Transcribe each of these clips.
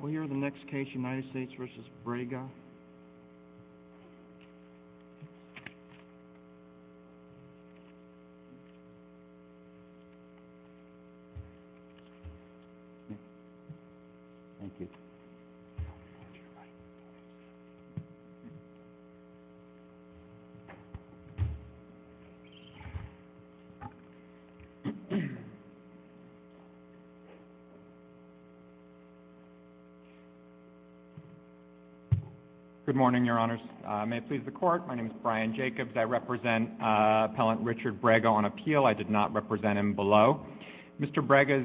We're the next case United States v. Braga. Good morning, Your Honors. May it please the Court, my name is Brian Jacobs. I represent Appellant Richard Braga on appeal. I did not represent him below. Mr. Braga's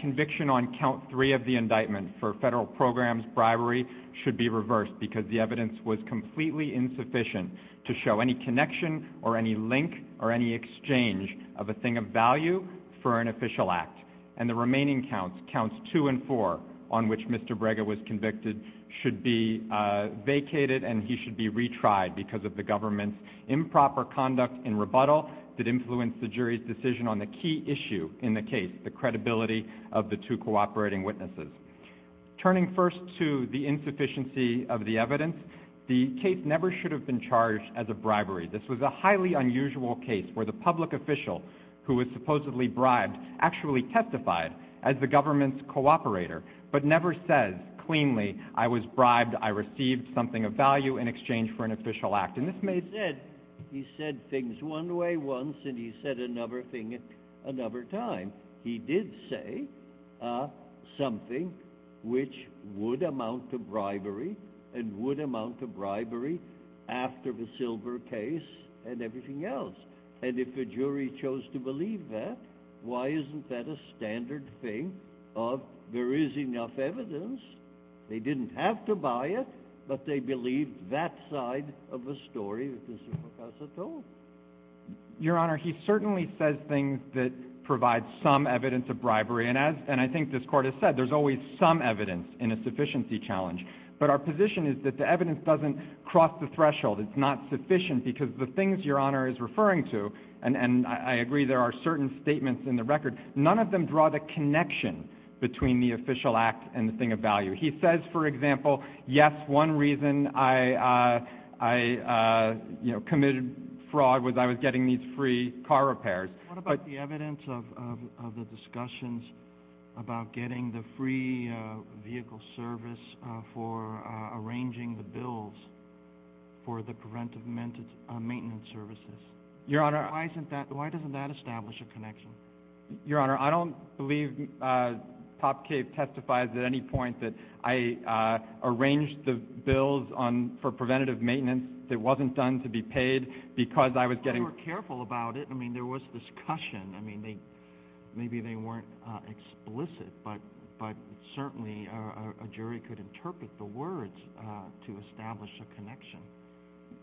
conviction on count three of the indictment for federal programs bribery should be reversed because the evidence was completely insufficient to show any connection or any link or any exchange of a thing of value for an official act. And the remaining counts, counts two and four on which Mr. Braga was convicted, should be vacated and he should be retried because of the government's improper conduct in rebuttal that influenced the jury's decision on the key issue in the case, the credibility of the two cooperating witnesses. Turning first to the insufficiency of the evidence, the case never should have been charged as a bribery. This was a highly unusual case where the public official who was supposedly bribed actually testified as the government's cooperator but never says cleanly, I was bribed, I received something of value in exchange for an official act. And this may have said, he said things one way once and he said another thing another time. He did say something which would amount to bribery and would amount to bribery after the Silver case and everything else. And if the jury chose to believe that, why isn't that a standard thing of there is enough evidence, they didn't have to buy it, but they believed that side of the story that Mr. Procasa told. Your Honor, he certainly says things that provide some evidence of bribery and I think this Court has said there's always some evidence in a sufficiency challenge. But our position is that the evidence doesn't cross the threshold, it's not sufficient because the things Your Honor is referring to, and I agree there are certain statements in the record, none of them draw the connection between the official act and the thing of value. He says, for example, yes, one reason I committed fraud was I was getting these free car repairs. What about the evidence of the discussions about getting the free vehicle service for arranging the bills for the preventive maintenance services? Your Honor. Why doesn't that establish a connection? Your Honor, I don't believe Top Cape testifies at any point that I arranged the bills for preventative maintenance that wasn't done to be paid because I was getting... They were careful about it. I mean, there was discussion. I mean, maybe they weren't explicit, but certainly a jury could interpret the words to establish a connection.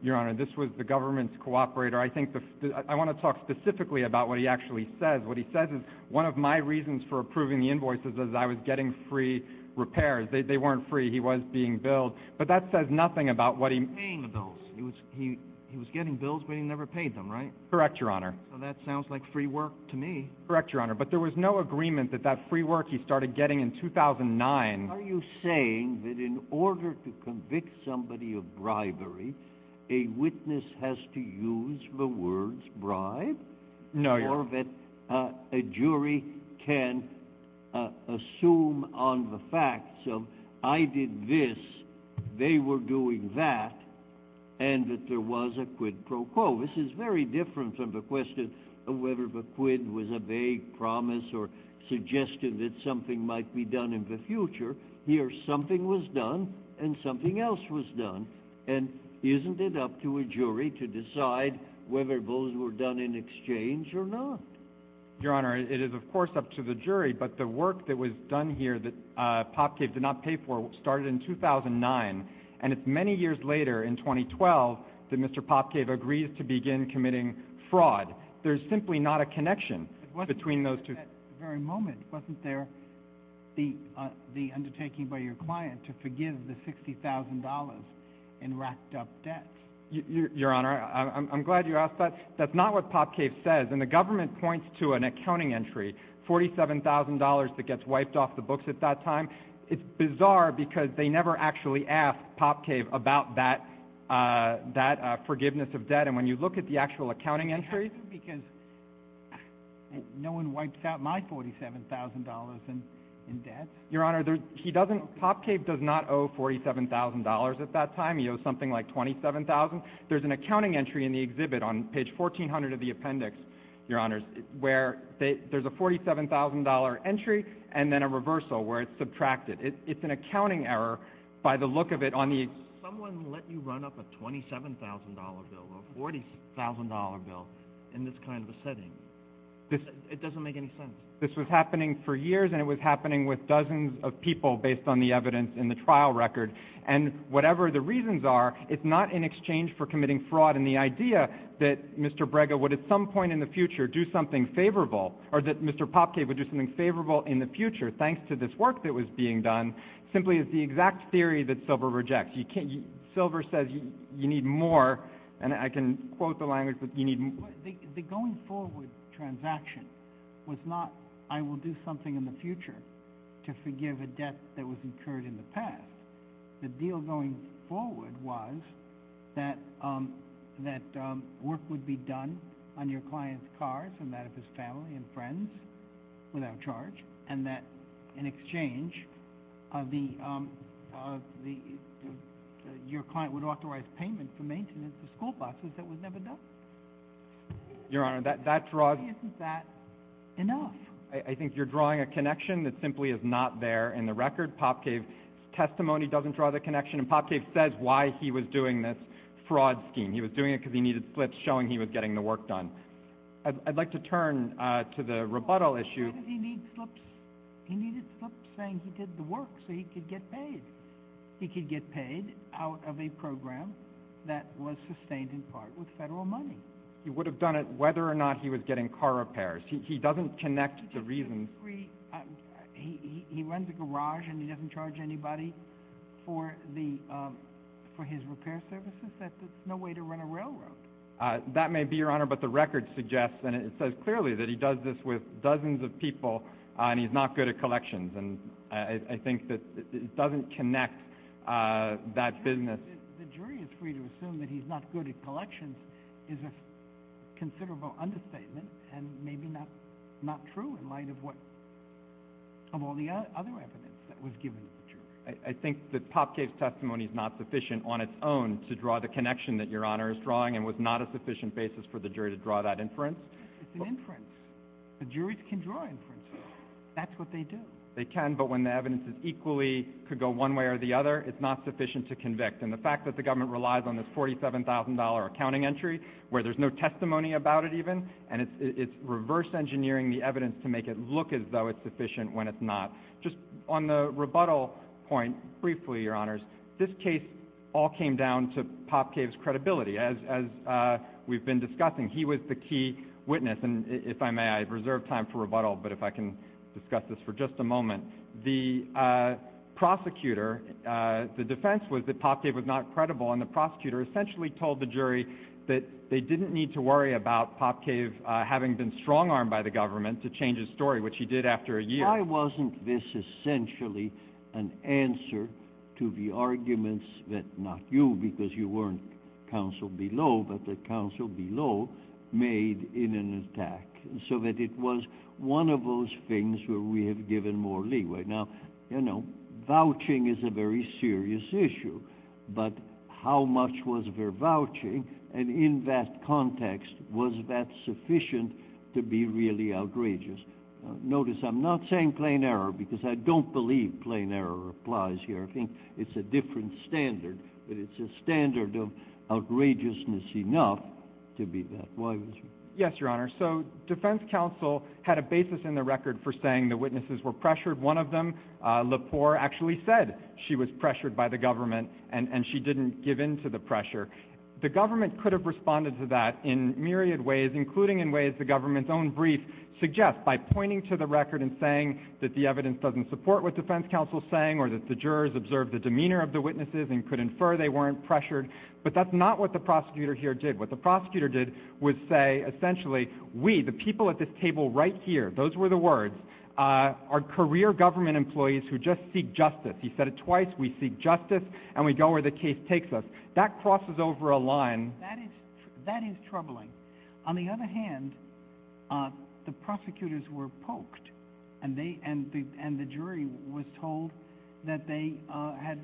Your Honor, this was the government's cooperator. I want to talk specifically about what he actually says. What he says is one of my reasons for approving the invoices is I was getting free repairs. They weren't free. He was being billed. But that says nothing about what he... He was paying the bills. He was getting bills, but he never paid them, right? Correct, Your Honor. So that sounds like free work to me. Correct, Your Honor. But there was no agreement that that free work he started getting in 2009... No, Your Honor. ...whether those were done in exchange or not. Your Honor, it is, of course, up to the jury. But the work that was done here that Pop Cave did not pay for started in 2009. And it's many years later, in 2012, that Mr. Pop Cave agrees to begin committing fraud. There's simply not a connection between those two... But wasn't there at that very moment, wasn't there the undertaking by your client to forgive the $60,000 in racked-up debt? Your Honor, I'm glad you asked that. That's not what Pop Cave says. And the government points to an accounting entry, $47,000 that gets wiped off the books at that time. It's bizarre because they never actually asked Pop Cave about that forgiveness of debt. And when you look at the actual accounting entry... Because no one wipes out my $47,000 in debt. Your Honor, Pop Cave does not owe $47,000 at that time. He owes something like $27,000. There's an accounting entry in the exhibit on page 1,400 of the appendix, Your Honor, where there's a $47,000 entry and then a reversal where it's subtracted. It's an accounting error by the look of it on the... Someone let you run up a $27,000 bill or a $40,000 bill in this kind of a setting. It doesn't make any sense. This was happening for years, and it was happening with dozens of people based on the evidence in the trial record. And whatever the reasons are, it's not in exchange for committing fraud. And the idea that Mr. Brega would at some point in the future do something favorable, or that Mr. Pop Cave would do something favorable in the future thanks to this work that was being done, simply is the exact theory that Silver rejects. Silver says you need more, and I can quote the language, but you need more. The going forward transaction was not I will do something in the future to forgive a debt that was incurred in the past. The deal going forward was that work would be done on your client's cars and that of his family and friends without charge, and that in exchange your client would authorize payment for maintenance of school buses that was never done. Your Honor, that draws... Isn't that enough? I think you're drawing a connection that simply is not there in the record. Pop Cave's testimony doesn't draw that connection, and Pop Cave says why he was doing this fraud scheme. He was doing it because he needed slips showing he was getting the work done. I'd like to turn to the rebuttal issue. Why did he need slips? He needed slips saying he did the work so he could get paid. He could get paid out of a program that was sustained in part with federal money. He would have done it whether or not he was getting car repairs. He doesn't connect the reasons. He runs a garage and he doesn't charge anybody for his repair services? That's no way to run a railroad. That may be, Your Honor, but the record suggests and it says clearly that he does this with dozens of people and he's not good at collections, and I think that it doesn't connect that business. The jury is free to assume that he's not good at collections is a considerable understatement and maybe not true in light of all the other evidence that was given to the jury. I think that Popcave's testimony is not sufficient on its own to draw the connection that Your Honor is drawing and was not a sufficient basis for the jury to draw that inference. It's an inference. The juries can draw inferences. That's what they do. They can, but when the evidence is equally, could go one way or the other, it's not sufficient to convict. And the fact that the government relies on this $47,000 accounting entry where there's no testimony about it even and it's reverse engineering the evidence to make it look as though it's sufficient when it's not. Just on the rebuttal point briefly, Your Honors, this case all came down to Popcave's credibility, as we've been discussing. He was the key witness, and if I may, I reserve time for rebuttal, but if I can discuss this for just a moment. The prosecutor, the defense was that Popcave was not credible, and the prosecutor essentially told the jury that they didn't need to worry about Popcave having been strong-armed by the government to change his story, which he did after a year. Why wasn't this essentially an answer to the arguments that not you, because you weren't counsel below, but the counsel below made in an attack? So that it was one of those things where we have given more leeway. Now, you know, vouching is a very serious issue, but how much was there vouching? And in that context, was that sufficient to be really outrageous? Notice I'm not saying plain error, because I don't believe plain error applies here. I think it's a different standard, but it's a standard of outrageousness enough to be that. Yes, Your Honor. So defense counsel had a basis in the record for saying the witnesses were pressured. One of them, Lepore, actually said she was pressured by the government, and she didn't give in to the pressure. The government could have responded to that in myriad ways, including in ways the government's own brief suggests by pointing to the record and saying that the evidence doesn't support what defense counsel is saying or that the jurors observed the demeanor of the witnesses and could infer they weren't pressured. But that's not what the prosecutor here did. What the prosecutor did was say, essentially, we, the people at this table right here, those were the words, are career government employees who just seek justice. He said it twice. We seek justice, and we go where the case takes us. That crosses over a line. That is troubling. On the other hand, the prosecutors were poked, and the jury was told that they had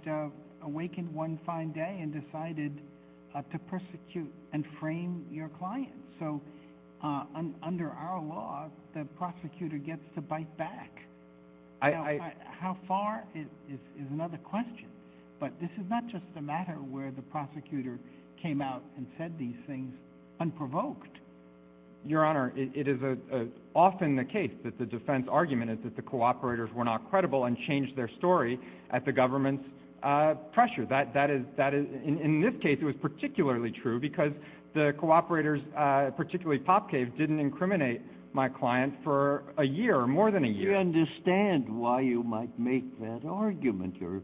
awakened one fine day and decided to persecute and frame your client. So under our law, the prosecutor gets to bite back. How far is another question. But this is not just a matter where the prosecutor came out and said these things unprovoked. Your Honor, it is often the case that the defense argument is that the cooperators were not credible and changed their story at the government's pressure. In this case, it was particularly true because the cooperators, particularly Popcave, didn't incriminate my client for a year or more than a year. I understand why you might make that argument or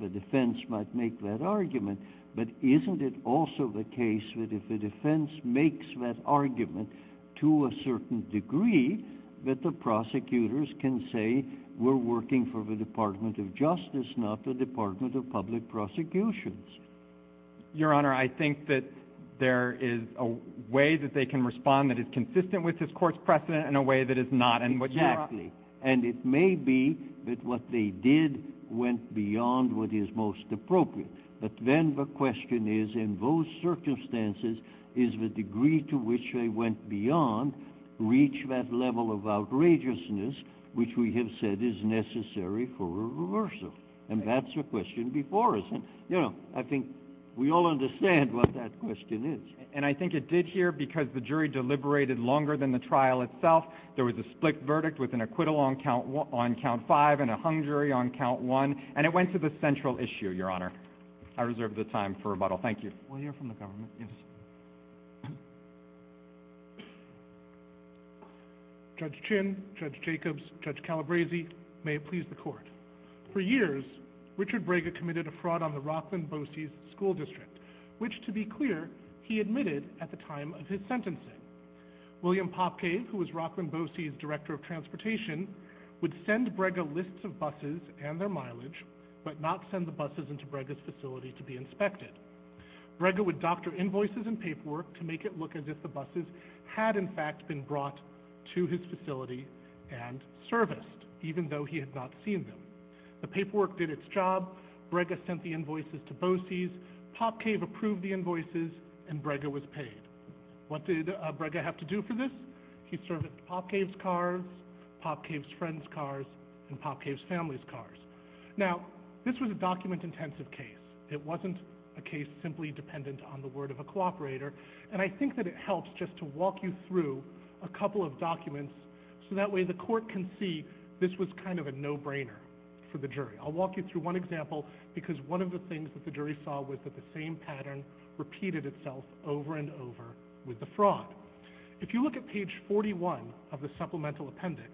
the defense might make that argument, but isn't it also the case that if the defense makes that argument to a certain degree, that the prosecutors can say we're working for the Department of Justice, not the Department of Public Prosecutions? Your Honor, I think that there is a way that they can respond that is consistent with this court's precedent in a way that it's not. Exactly. And it may be that what they did went beyond what is most appropriate. But then the question is, in those circumstances, is the degree to which they went beyond reach that level of outrageousness which we have said is necessary for a reversal? And that's the question before us. You know, I think we all understand what that question is. And I think it did here because the jury deliberated longer than the trial itself. There was a split verdict with an acquittal on count five and a hung jury on count one. And it went to the central issue, Your Honor. I reserve the time for rebuttal. Thank you. We'll hear from the government. Judge Chin, Judge Jacobs, Judge Calabresi, may it please the Court. For years, Richard Braga committed a fraud on the Rockland-Boseys School District, which, to be clear, he admitted at the time of his sentencing. William Popcave, who was Rockland-Boseys' Director of Transportation, would send Braga lists of buses and their mileage, but not send the buses into Braga's facility to be inspected. Braga would doctor invoices and paperwork to make it look as if the buses had in fact been brought to his facility and serviced, even though he had not seen them. The paperwork did its job. Braga sent the invoices to Boseys. Popcave approved the invoices, and Braga was paid. What did Braga have to do for this? He served at Popcave's cars, Popcave's friends' cars, and Popcave's family's cars. Now, this was a document-intensive case. It wasn't a case simply dependent on the word of a cooperator, and I think that it helps just to walk you through a couple of documents so that way the Court can see this was kind of a no-brainer for the jury. I'll walk you through one example, because one of the things that the jury saw was that the same pattern repeated itself over and over with the fraud. If you look at page 41 of the supplemental appendix,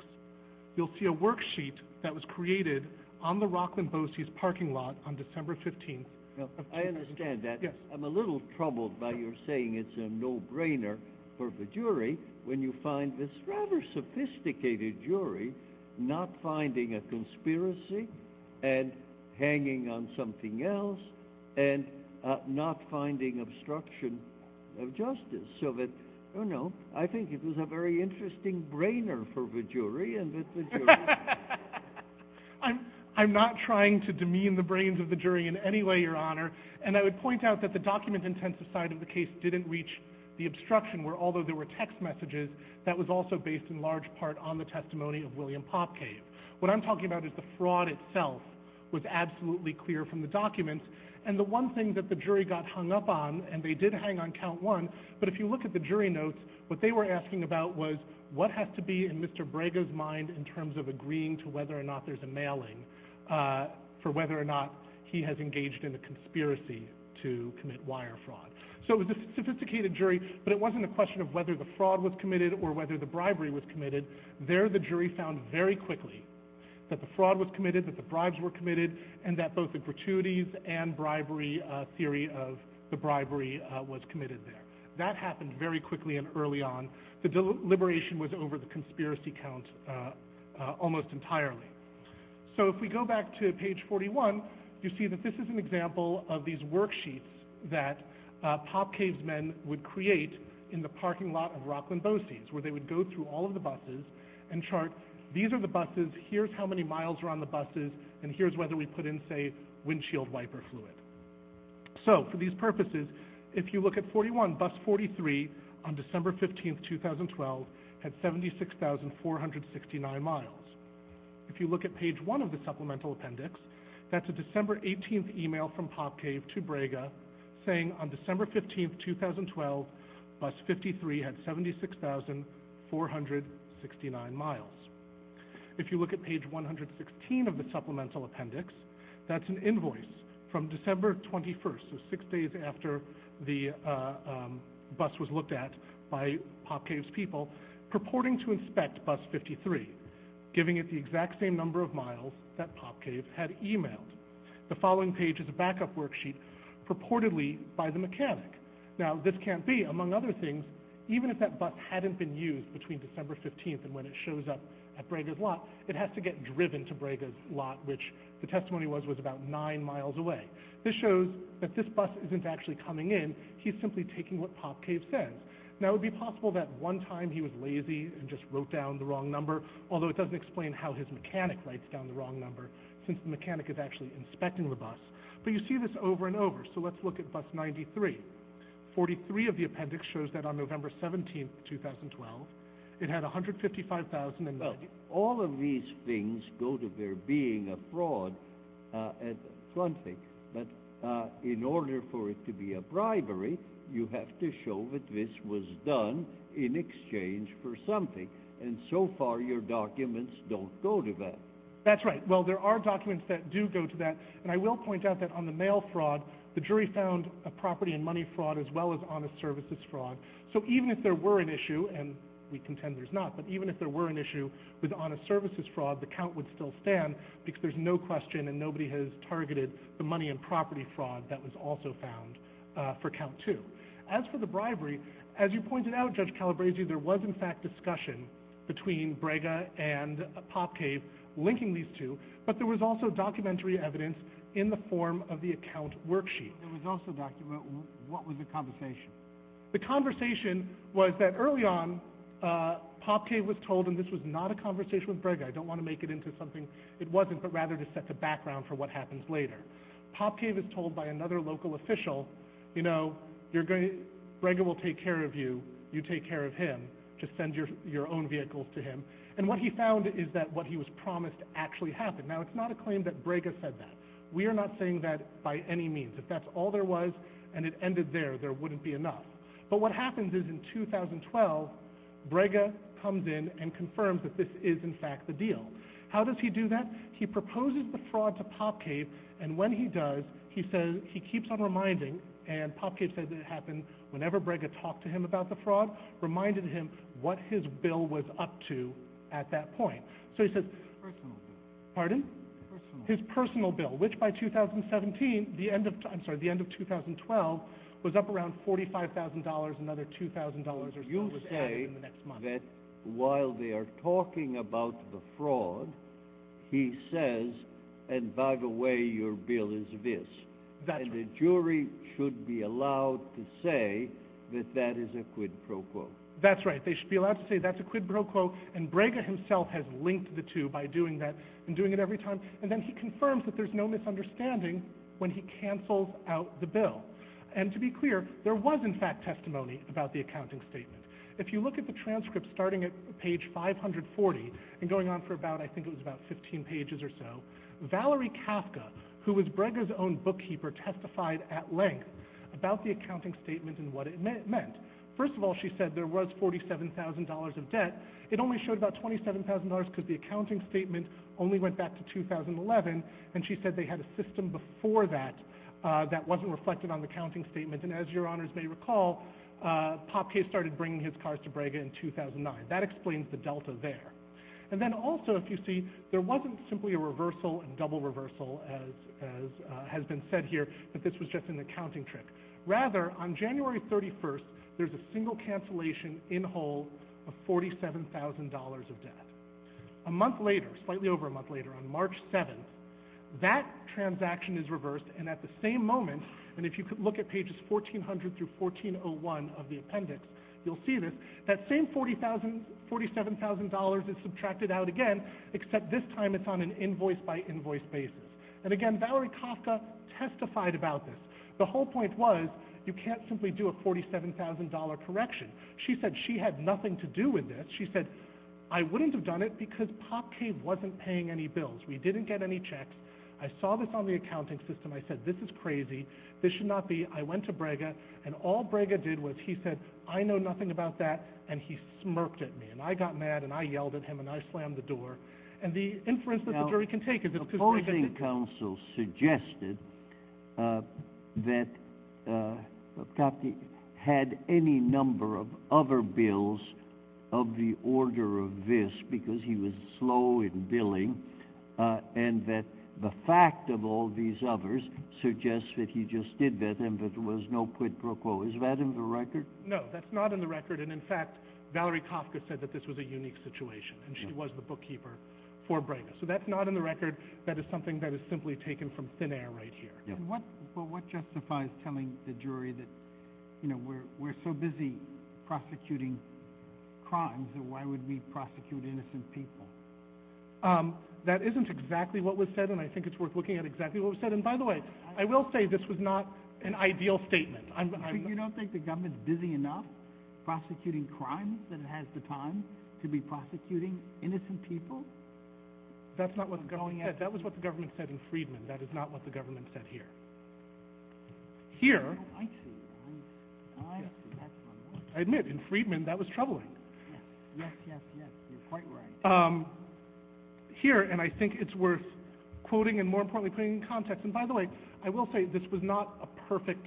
you'll see a worksheet that was created on the Rockland-Boseys' parking lot on December 15th. I understand that. I'm a little troubled by your saying it's a no-brainer for the jury when you find this rather sophisticated jury not finding a conspiracy and hanging on something else and not finding obstruction of justice. I think it was a very interesting brainer for the jury. I'm not trying to demean the brains of the jury in any way, Your Honor, and I would point out that the document-intensive side of the case didn't reach the obstruction, where although there were text messages, that was also based in large part on the testimony of William Popkave. What I'm talking about is the fraud itself was absolutely clear from the documents, and the one thing that the jury got hung up on, and they did hang on count one, but if you look at the jury notes, what they were asking about was what has to be in Mr. Brego's mind in terms of agreeing to whether or not there's a mailing for whether or not he has engaged in a conspiracy to commit wire fraud. So it was a sophisticated jury, but it wasn't a question of whether the fraud was committed or whether the bribery was committed. There the jury found very quickly that the fraud was committed, that the bribes were committed, and that both the gratuities and theory of the bribery was committed there. That happened very quickly and early on. The deliberation was over the conspiracy count almost entirely. So if we go back to page 41, you see that this is an example of these worksheets that Popkave's men would create in the parking lot of Rockland BOCES, where they would go through all of the buses and chart these are the buses, here's how many miles are on the buses, and here's whether we put in, say, windshield wiper fluid. So for these purposes, if you look at 41, bus 43 on December 15, 2012, had 76,469 miles. If you look at page one of the supplemental appendix, that's a December 18 email from Popkave to Braga saying on December 15, 2012, bus 53 had 76,469 miles. If you look at page 116 of the supplemental appendix, that's an invoice from December 21, so six days after the bus was looked at by Popkave's people, purporting to inspect bus 53, giving it the exact same number of miles that Popkave had emailed. The following page is a backup worksheet purportedly by the mechanic. Now, this can't be. Among other things, even if that bus hadn't been used between December 15 and when it shows up at Braga's lot, it has to get driven to Braga's lot, which the testimony was was about nine miles away. This shows that this bus isn't actually coming in. He's simply taking what Popkave says. Now, it would be possible that one time he was lazy and just wrote down the wrong number, although it doesn't explain how his mechanic writes down the wrong number since the mechanic is actually inspecting the bus. But you see this over and over, so let's look at bus 93. 43 of the appendix shows that on November 17, 2012, it had 155,000 miles. Well, all of these things go to there being a fraud, but in order for it to be a bribery, you have to show that this was done in exchange for something, and so far your documents don't go to that. That's right. Well, there are documents that do go to that, and I will point out that on the mail fraud, the jury found a property and money fraud as well as honest services fraud. So even if there were an issue, and we contend there's not, but even if there were an issue with honest services fraud, the count would still stand because there's no question and nobody has targeted the money and property fraud that was also found for count two. As for the bribery, as you pointed out, Judge Calabresi, there was, in fact, discussion between Brega and PopCave linking these two, but there was also documentary evidence in the form of the account worksheet. There was also documentary. What was the conversation? The conversation was that early on, PopCave was told, and this was not a conversation with Brega. I don't want to make it into something it wasn't, but rather to set the background for what happens later. PopCave is told by another local official, you know, Brega will take care of you. You take care of him. Just send your own vehicles to him. And what he found is that what he was promised actually happened. Now, it's not a claim that Brega said that. We are not saying that by any means. If that's all there was and it ended there, there wouldn't be enough. But what happens is in 2012, Brega comes in and confirms that this is, in fact, the deal. How does he do that? He proposes the fraud to PopCave, and when he does, he keeps on reminding, and PopCave says it happened whenever Brega talked to him about the fraud, reminded him what his bill was up to at that point. His personal bill. Pardon? His personal bill, which by 2017, I'm sorry, the end of 2012, was up around $45,000, another $2,000 or so was added in the next month. You say that while they are talking about the fraud, he says, and by the way, your bill is this. That's right. And the jury should be allowed to say that that is a quid pro quo. That's right. They should be allowed to say that's a quid pro quo, and Brega himself has linked the two by doing that and doing it every time. And then he confirms that there's no misunderstanding when he cancels out the bill. And to be clear, there was, in fact, testimony about the accounting statement. If you look at the transcript starting at page 540 and going on for about, I think it was about 15 pages or so, Valerie Kafka, who was Brega's own bookkeeper, testified at length about the accounting statement and what it meant. First of all, she said there was $47,000 of debt. It only showed about $27,000 because the accounting statement only went back to 2011, and she said they had a system before that that wasn't reflected on the counting statement. And as your honors may recall, Popkay started bringing his cars to Brega in 2009. That explains the delta there. And then also, if you see, there wasn't simply a reversal and double reversal, as has been said here, that this was just an accounting trick. Rather, on January 31st, there's a single cancellation in whole of $47,000 of debt. A month later, slightly over a month later, on March 7th, that transaction is reversed, and at the same moment, and if you could look at pages 1400 through 1401 of the appendix, you'll see this, that same $47,000 is subtracted out again, except this time it's on an invoice-by-invoice basis. And again, Valerie Kafka testified about this. The whole point was you can't simply do a $47,000 correction. She said she had nothing to do with this. She said, I wouldn't have done it because Popkay wasn't paying any bills. We didn't get any checks. I saw this on the accounting system. I said, this is crazy. This should not be. I went to Brega, and all Brega did was he said, I know nothing about that, and he smirked at me. And I got mad, and I yelled at him, and I slammed the door. And the inference that the jury can take is that the opposing counsel suggested that Popkay had any number of other bills of the order of this because he was slow in billing, and that the fact of all these others suggests that he just did that, and that there was no quid pro quo. Is that in the record? No, that's not in the record, and in fact, Valerie Kafka said that this was a unique situation, and she was the bookkeeper for Brega. So that's not in the record. That is something that is simply taken from thin air right here. But what justifies telling the jury that, you know, we're so busy prosecuting crimes, and why would we prosecute innocent people? That isn't exactly what was said, and I think it's worth looking at exactly what was said. And by the way, I will say this was not an ideal statement. You don't think the government is busy enough prosecuting crimes that it has the time to be prosecuting innocent people? That's not what the government said. That was what the government said in Freedman. That is not what the government said here. Here, I admit, in Freedman, that was troubling. Yes, yes, yes, you're quite right. Here, and I think it's worth quoting and more importantly putting in context, and by the way, I will say this was not a perfect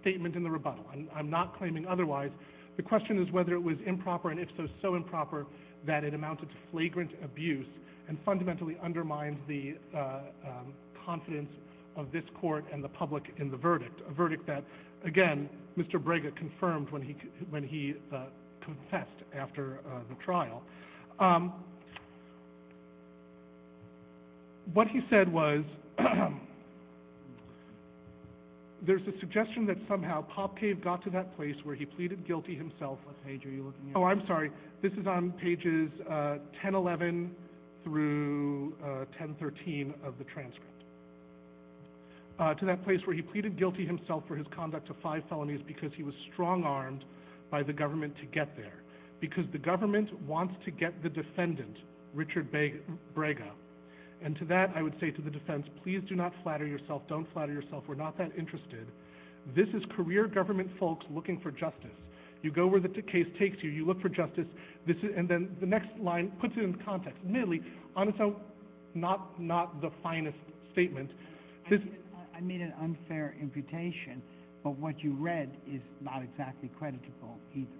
statement in the rebuttal. I'm not claiming otherwise. The question is whether it was improper, and if so, so improper, that it amounted to flagrant abuse and fundamentally undermined the confidence of this court and the public in the verdict, a verdict that, again, Mr. Brega confirmed when he confessed after the trial. What he said was there's a suggestion that somehow Popcave got to that place where he pleaded guilty himself. What page are you looking at? Oh, I'm sorry. This is on pages 1011 through 1013 of the transcript, to that place where he pleaded guilty himself for his conduct of five felonies because he was strong-armed by the government to get there because the government wants to get the defendant, Richard Brega, and to that I would say to the defense, please do not flatter yourself. Don't flatter yourself. We're not that interested. This is career government folks looking for justice. You go where the case takes you. You look for justice, and then the next line puts it in context. Admittedly, on its own, not the finest statement. I made an unfair imputation, but what you read is not exactly creditable either.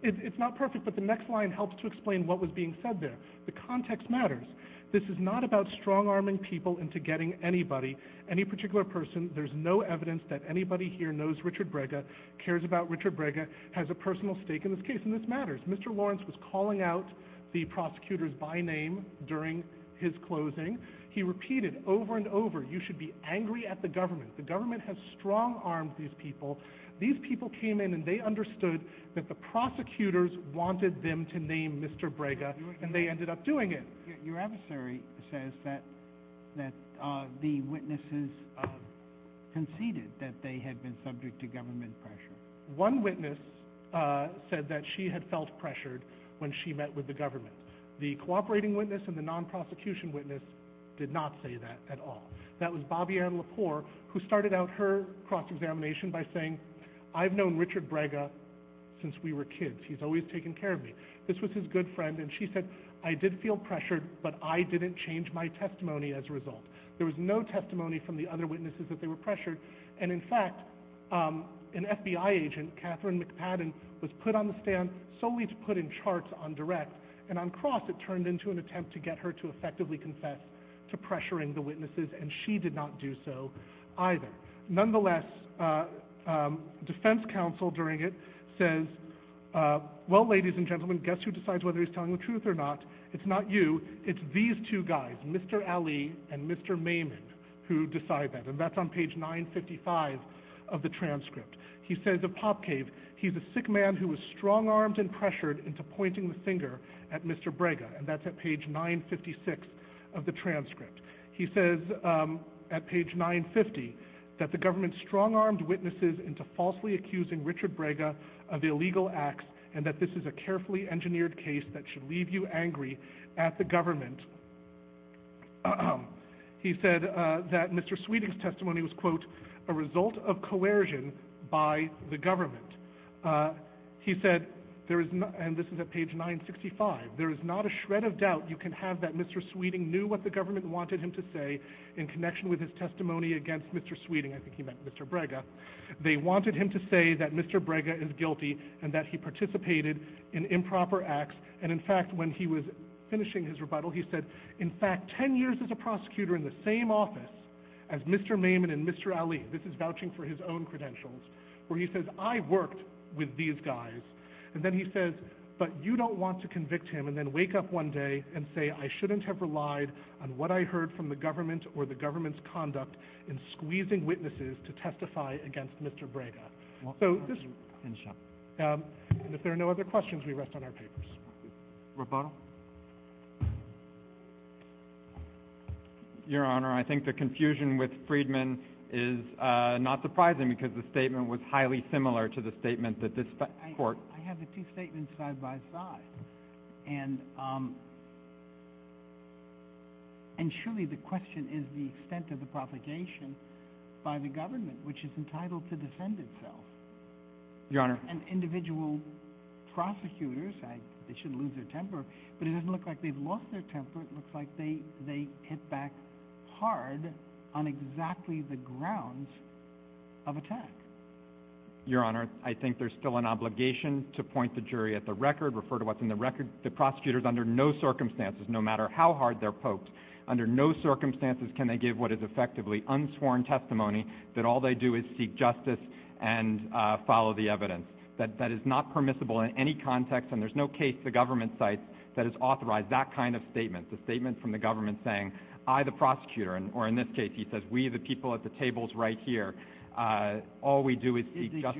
It's not perfect, but the next line helps to explain what was being said there. The context matters. This is not about strong-arming people into getting anybody, any particular person. There's no evidence that anybody here knows Richard Brega, cares about Richard Brega, has a personal stake in this case, and this matters. Mr. Lawrence was calling out the prosecutors by name during his closing. He repeated over and over, you should be angry at the government. The government has strong-armed these people. These people came in, and they understood that the prosecutors wanted them to name Mr. Brega, and they ended up doing it. Your adversary says that the witnesses conceded that they had been subject to government pressure. One witness said that she had felt pressured when she met with the government. The cooperating witness and the non-prosecution witness did not say that at all. That was Bobbi-Ann Lepore, who started out her cross-examination by saying, I've known Richard Brega since we were kids. He's always taken care of me. This was his good friend, and she said, I did feel pressured, but I didn't change my testimony as a result. There was no testimony from the other witnesses that they were pressured, and, in fact, an FBI agent, Catherine McPadden, was put on the stand solely to put in charts on direct, and on cross it turned into an attempt to get her to effectively confess to pressuring the witnesses, and she did not do so either. Nonetheless, defense counsel during it says, well, ladies and gentlemen, guess who decides whether he's telling the truth or not? It's not you. It's these two guys, Mr. Ali and Mr. Maimon, who decide that, and that's on page 955 of the transcript. He says of Popcave, he's a sick man who was strong-armed and pressured into pointing the finger at Mr. Brega, and that's at page 956 of the transcript. He says at page 950 that the government strong-armed witnesses into falsely accusing Richard Brega of illegal acts, and that this is a carefully engineered case that should leave you angry at the government. He said that Mr. Sweeting's testimony was, quote, a result of coercion by the government. He said, and this is at page 965, there is not a shred of doubt you can have that Mr. Sweeting knew what the government wanted him to say in connection with his testimony against Mr. Sweeting. I think he meant Mr. Brega. They wanted him to say that Mr. Brega is guilty and that he participated in improper acts, and in fact, when he was finishing his rebuttal, he said, in fact, 10 years as a prosecutor in the same office as Mr. Maimon and Mr. Ali, this is vouching for his own credentials, where he says, I worked with these guys. And then he says, but you don't want to convict him and then wake up one day and say, I shouldn't have relied on what I heard from the government or the government's conduct in squeezing witnesses to testify against Mr. Brega. And if there are no other questions, we rest on our papers. Roboto? Your Honor, I think the confusion with Friedman is not surprising because the statement was highly similar to the statement that this court I have the two statements side by side. And surely the question is the extent of the propagation by the government, which is entitled to defend itself. Your Honor. And individual prosecutors, they should lose their temper, but it doesn't look like they've lost their temper. It looks like they hit back hard on exactly the grounds of attack. Your Honor, I think there's still an obligation to point the jury at the record, refer to what's in the record. The prosecutors under no circumstances, no matter how hard they're poked under no circumstances, can they give what is effectively unsworn testimony that all they do is seek justice and follow the evidence that that is not permissible in any context. And there's no case the government site that is authorized that kind of statement. It's a statement from the government saying, I, the prosecutor, or in this case, he says, we, the people at the tables right here. All we do is judge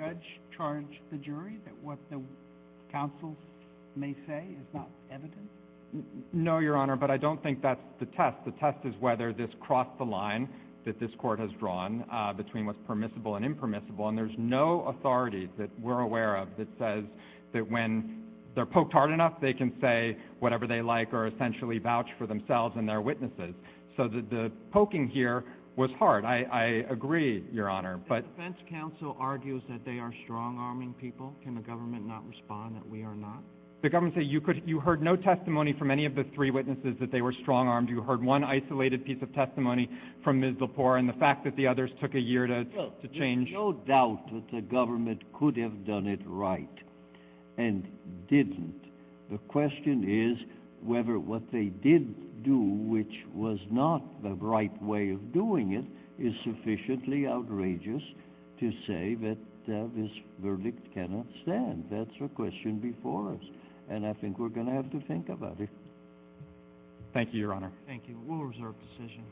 charge the jury that what the council may say is not evidence. No, Your Honor, but I don't think that's the test. The test is whether this crossed the line that this court has drawn between what's permissible and impermissible. And there's no authority that we're aware of that says that when they're poked hard enough, they can say whatever they like or essentially vouch for themselves and their witnesses. So the poking here was hard. I agree, Your Honor. But defense counsel argues that they are strong arming people. Can the government not respond that we are not the government that you could? You heard no testimony from any of the three witnesses that they were strong armed. You heard one isolated piece of testimony from the poor and the fact that the others took a year to change. There's no doubt that the government could have done it right and didn't. The question is whether what they did do, which was not the right way of doing it, is sufficiently outrageous to say that this verdict cannot stand. That's a question before us, and I think we're going to have to think about it. Thank you, Your Honor. Thank you. We'll reserve decision.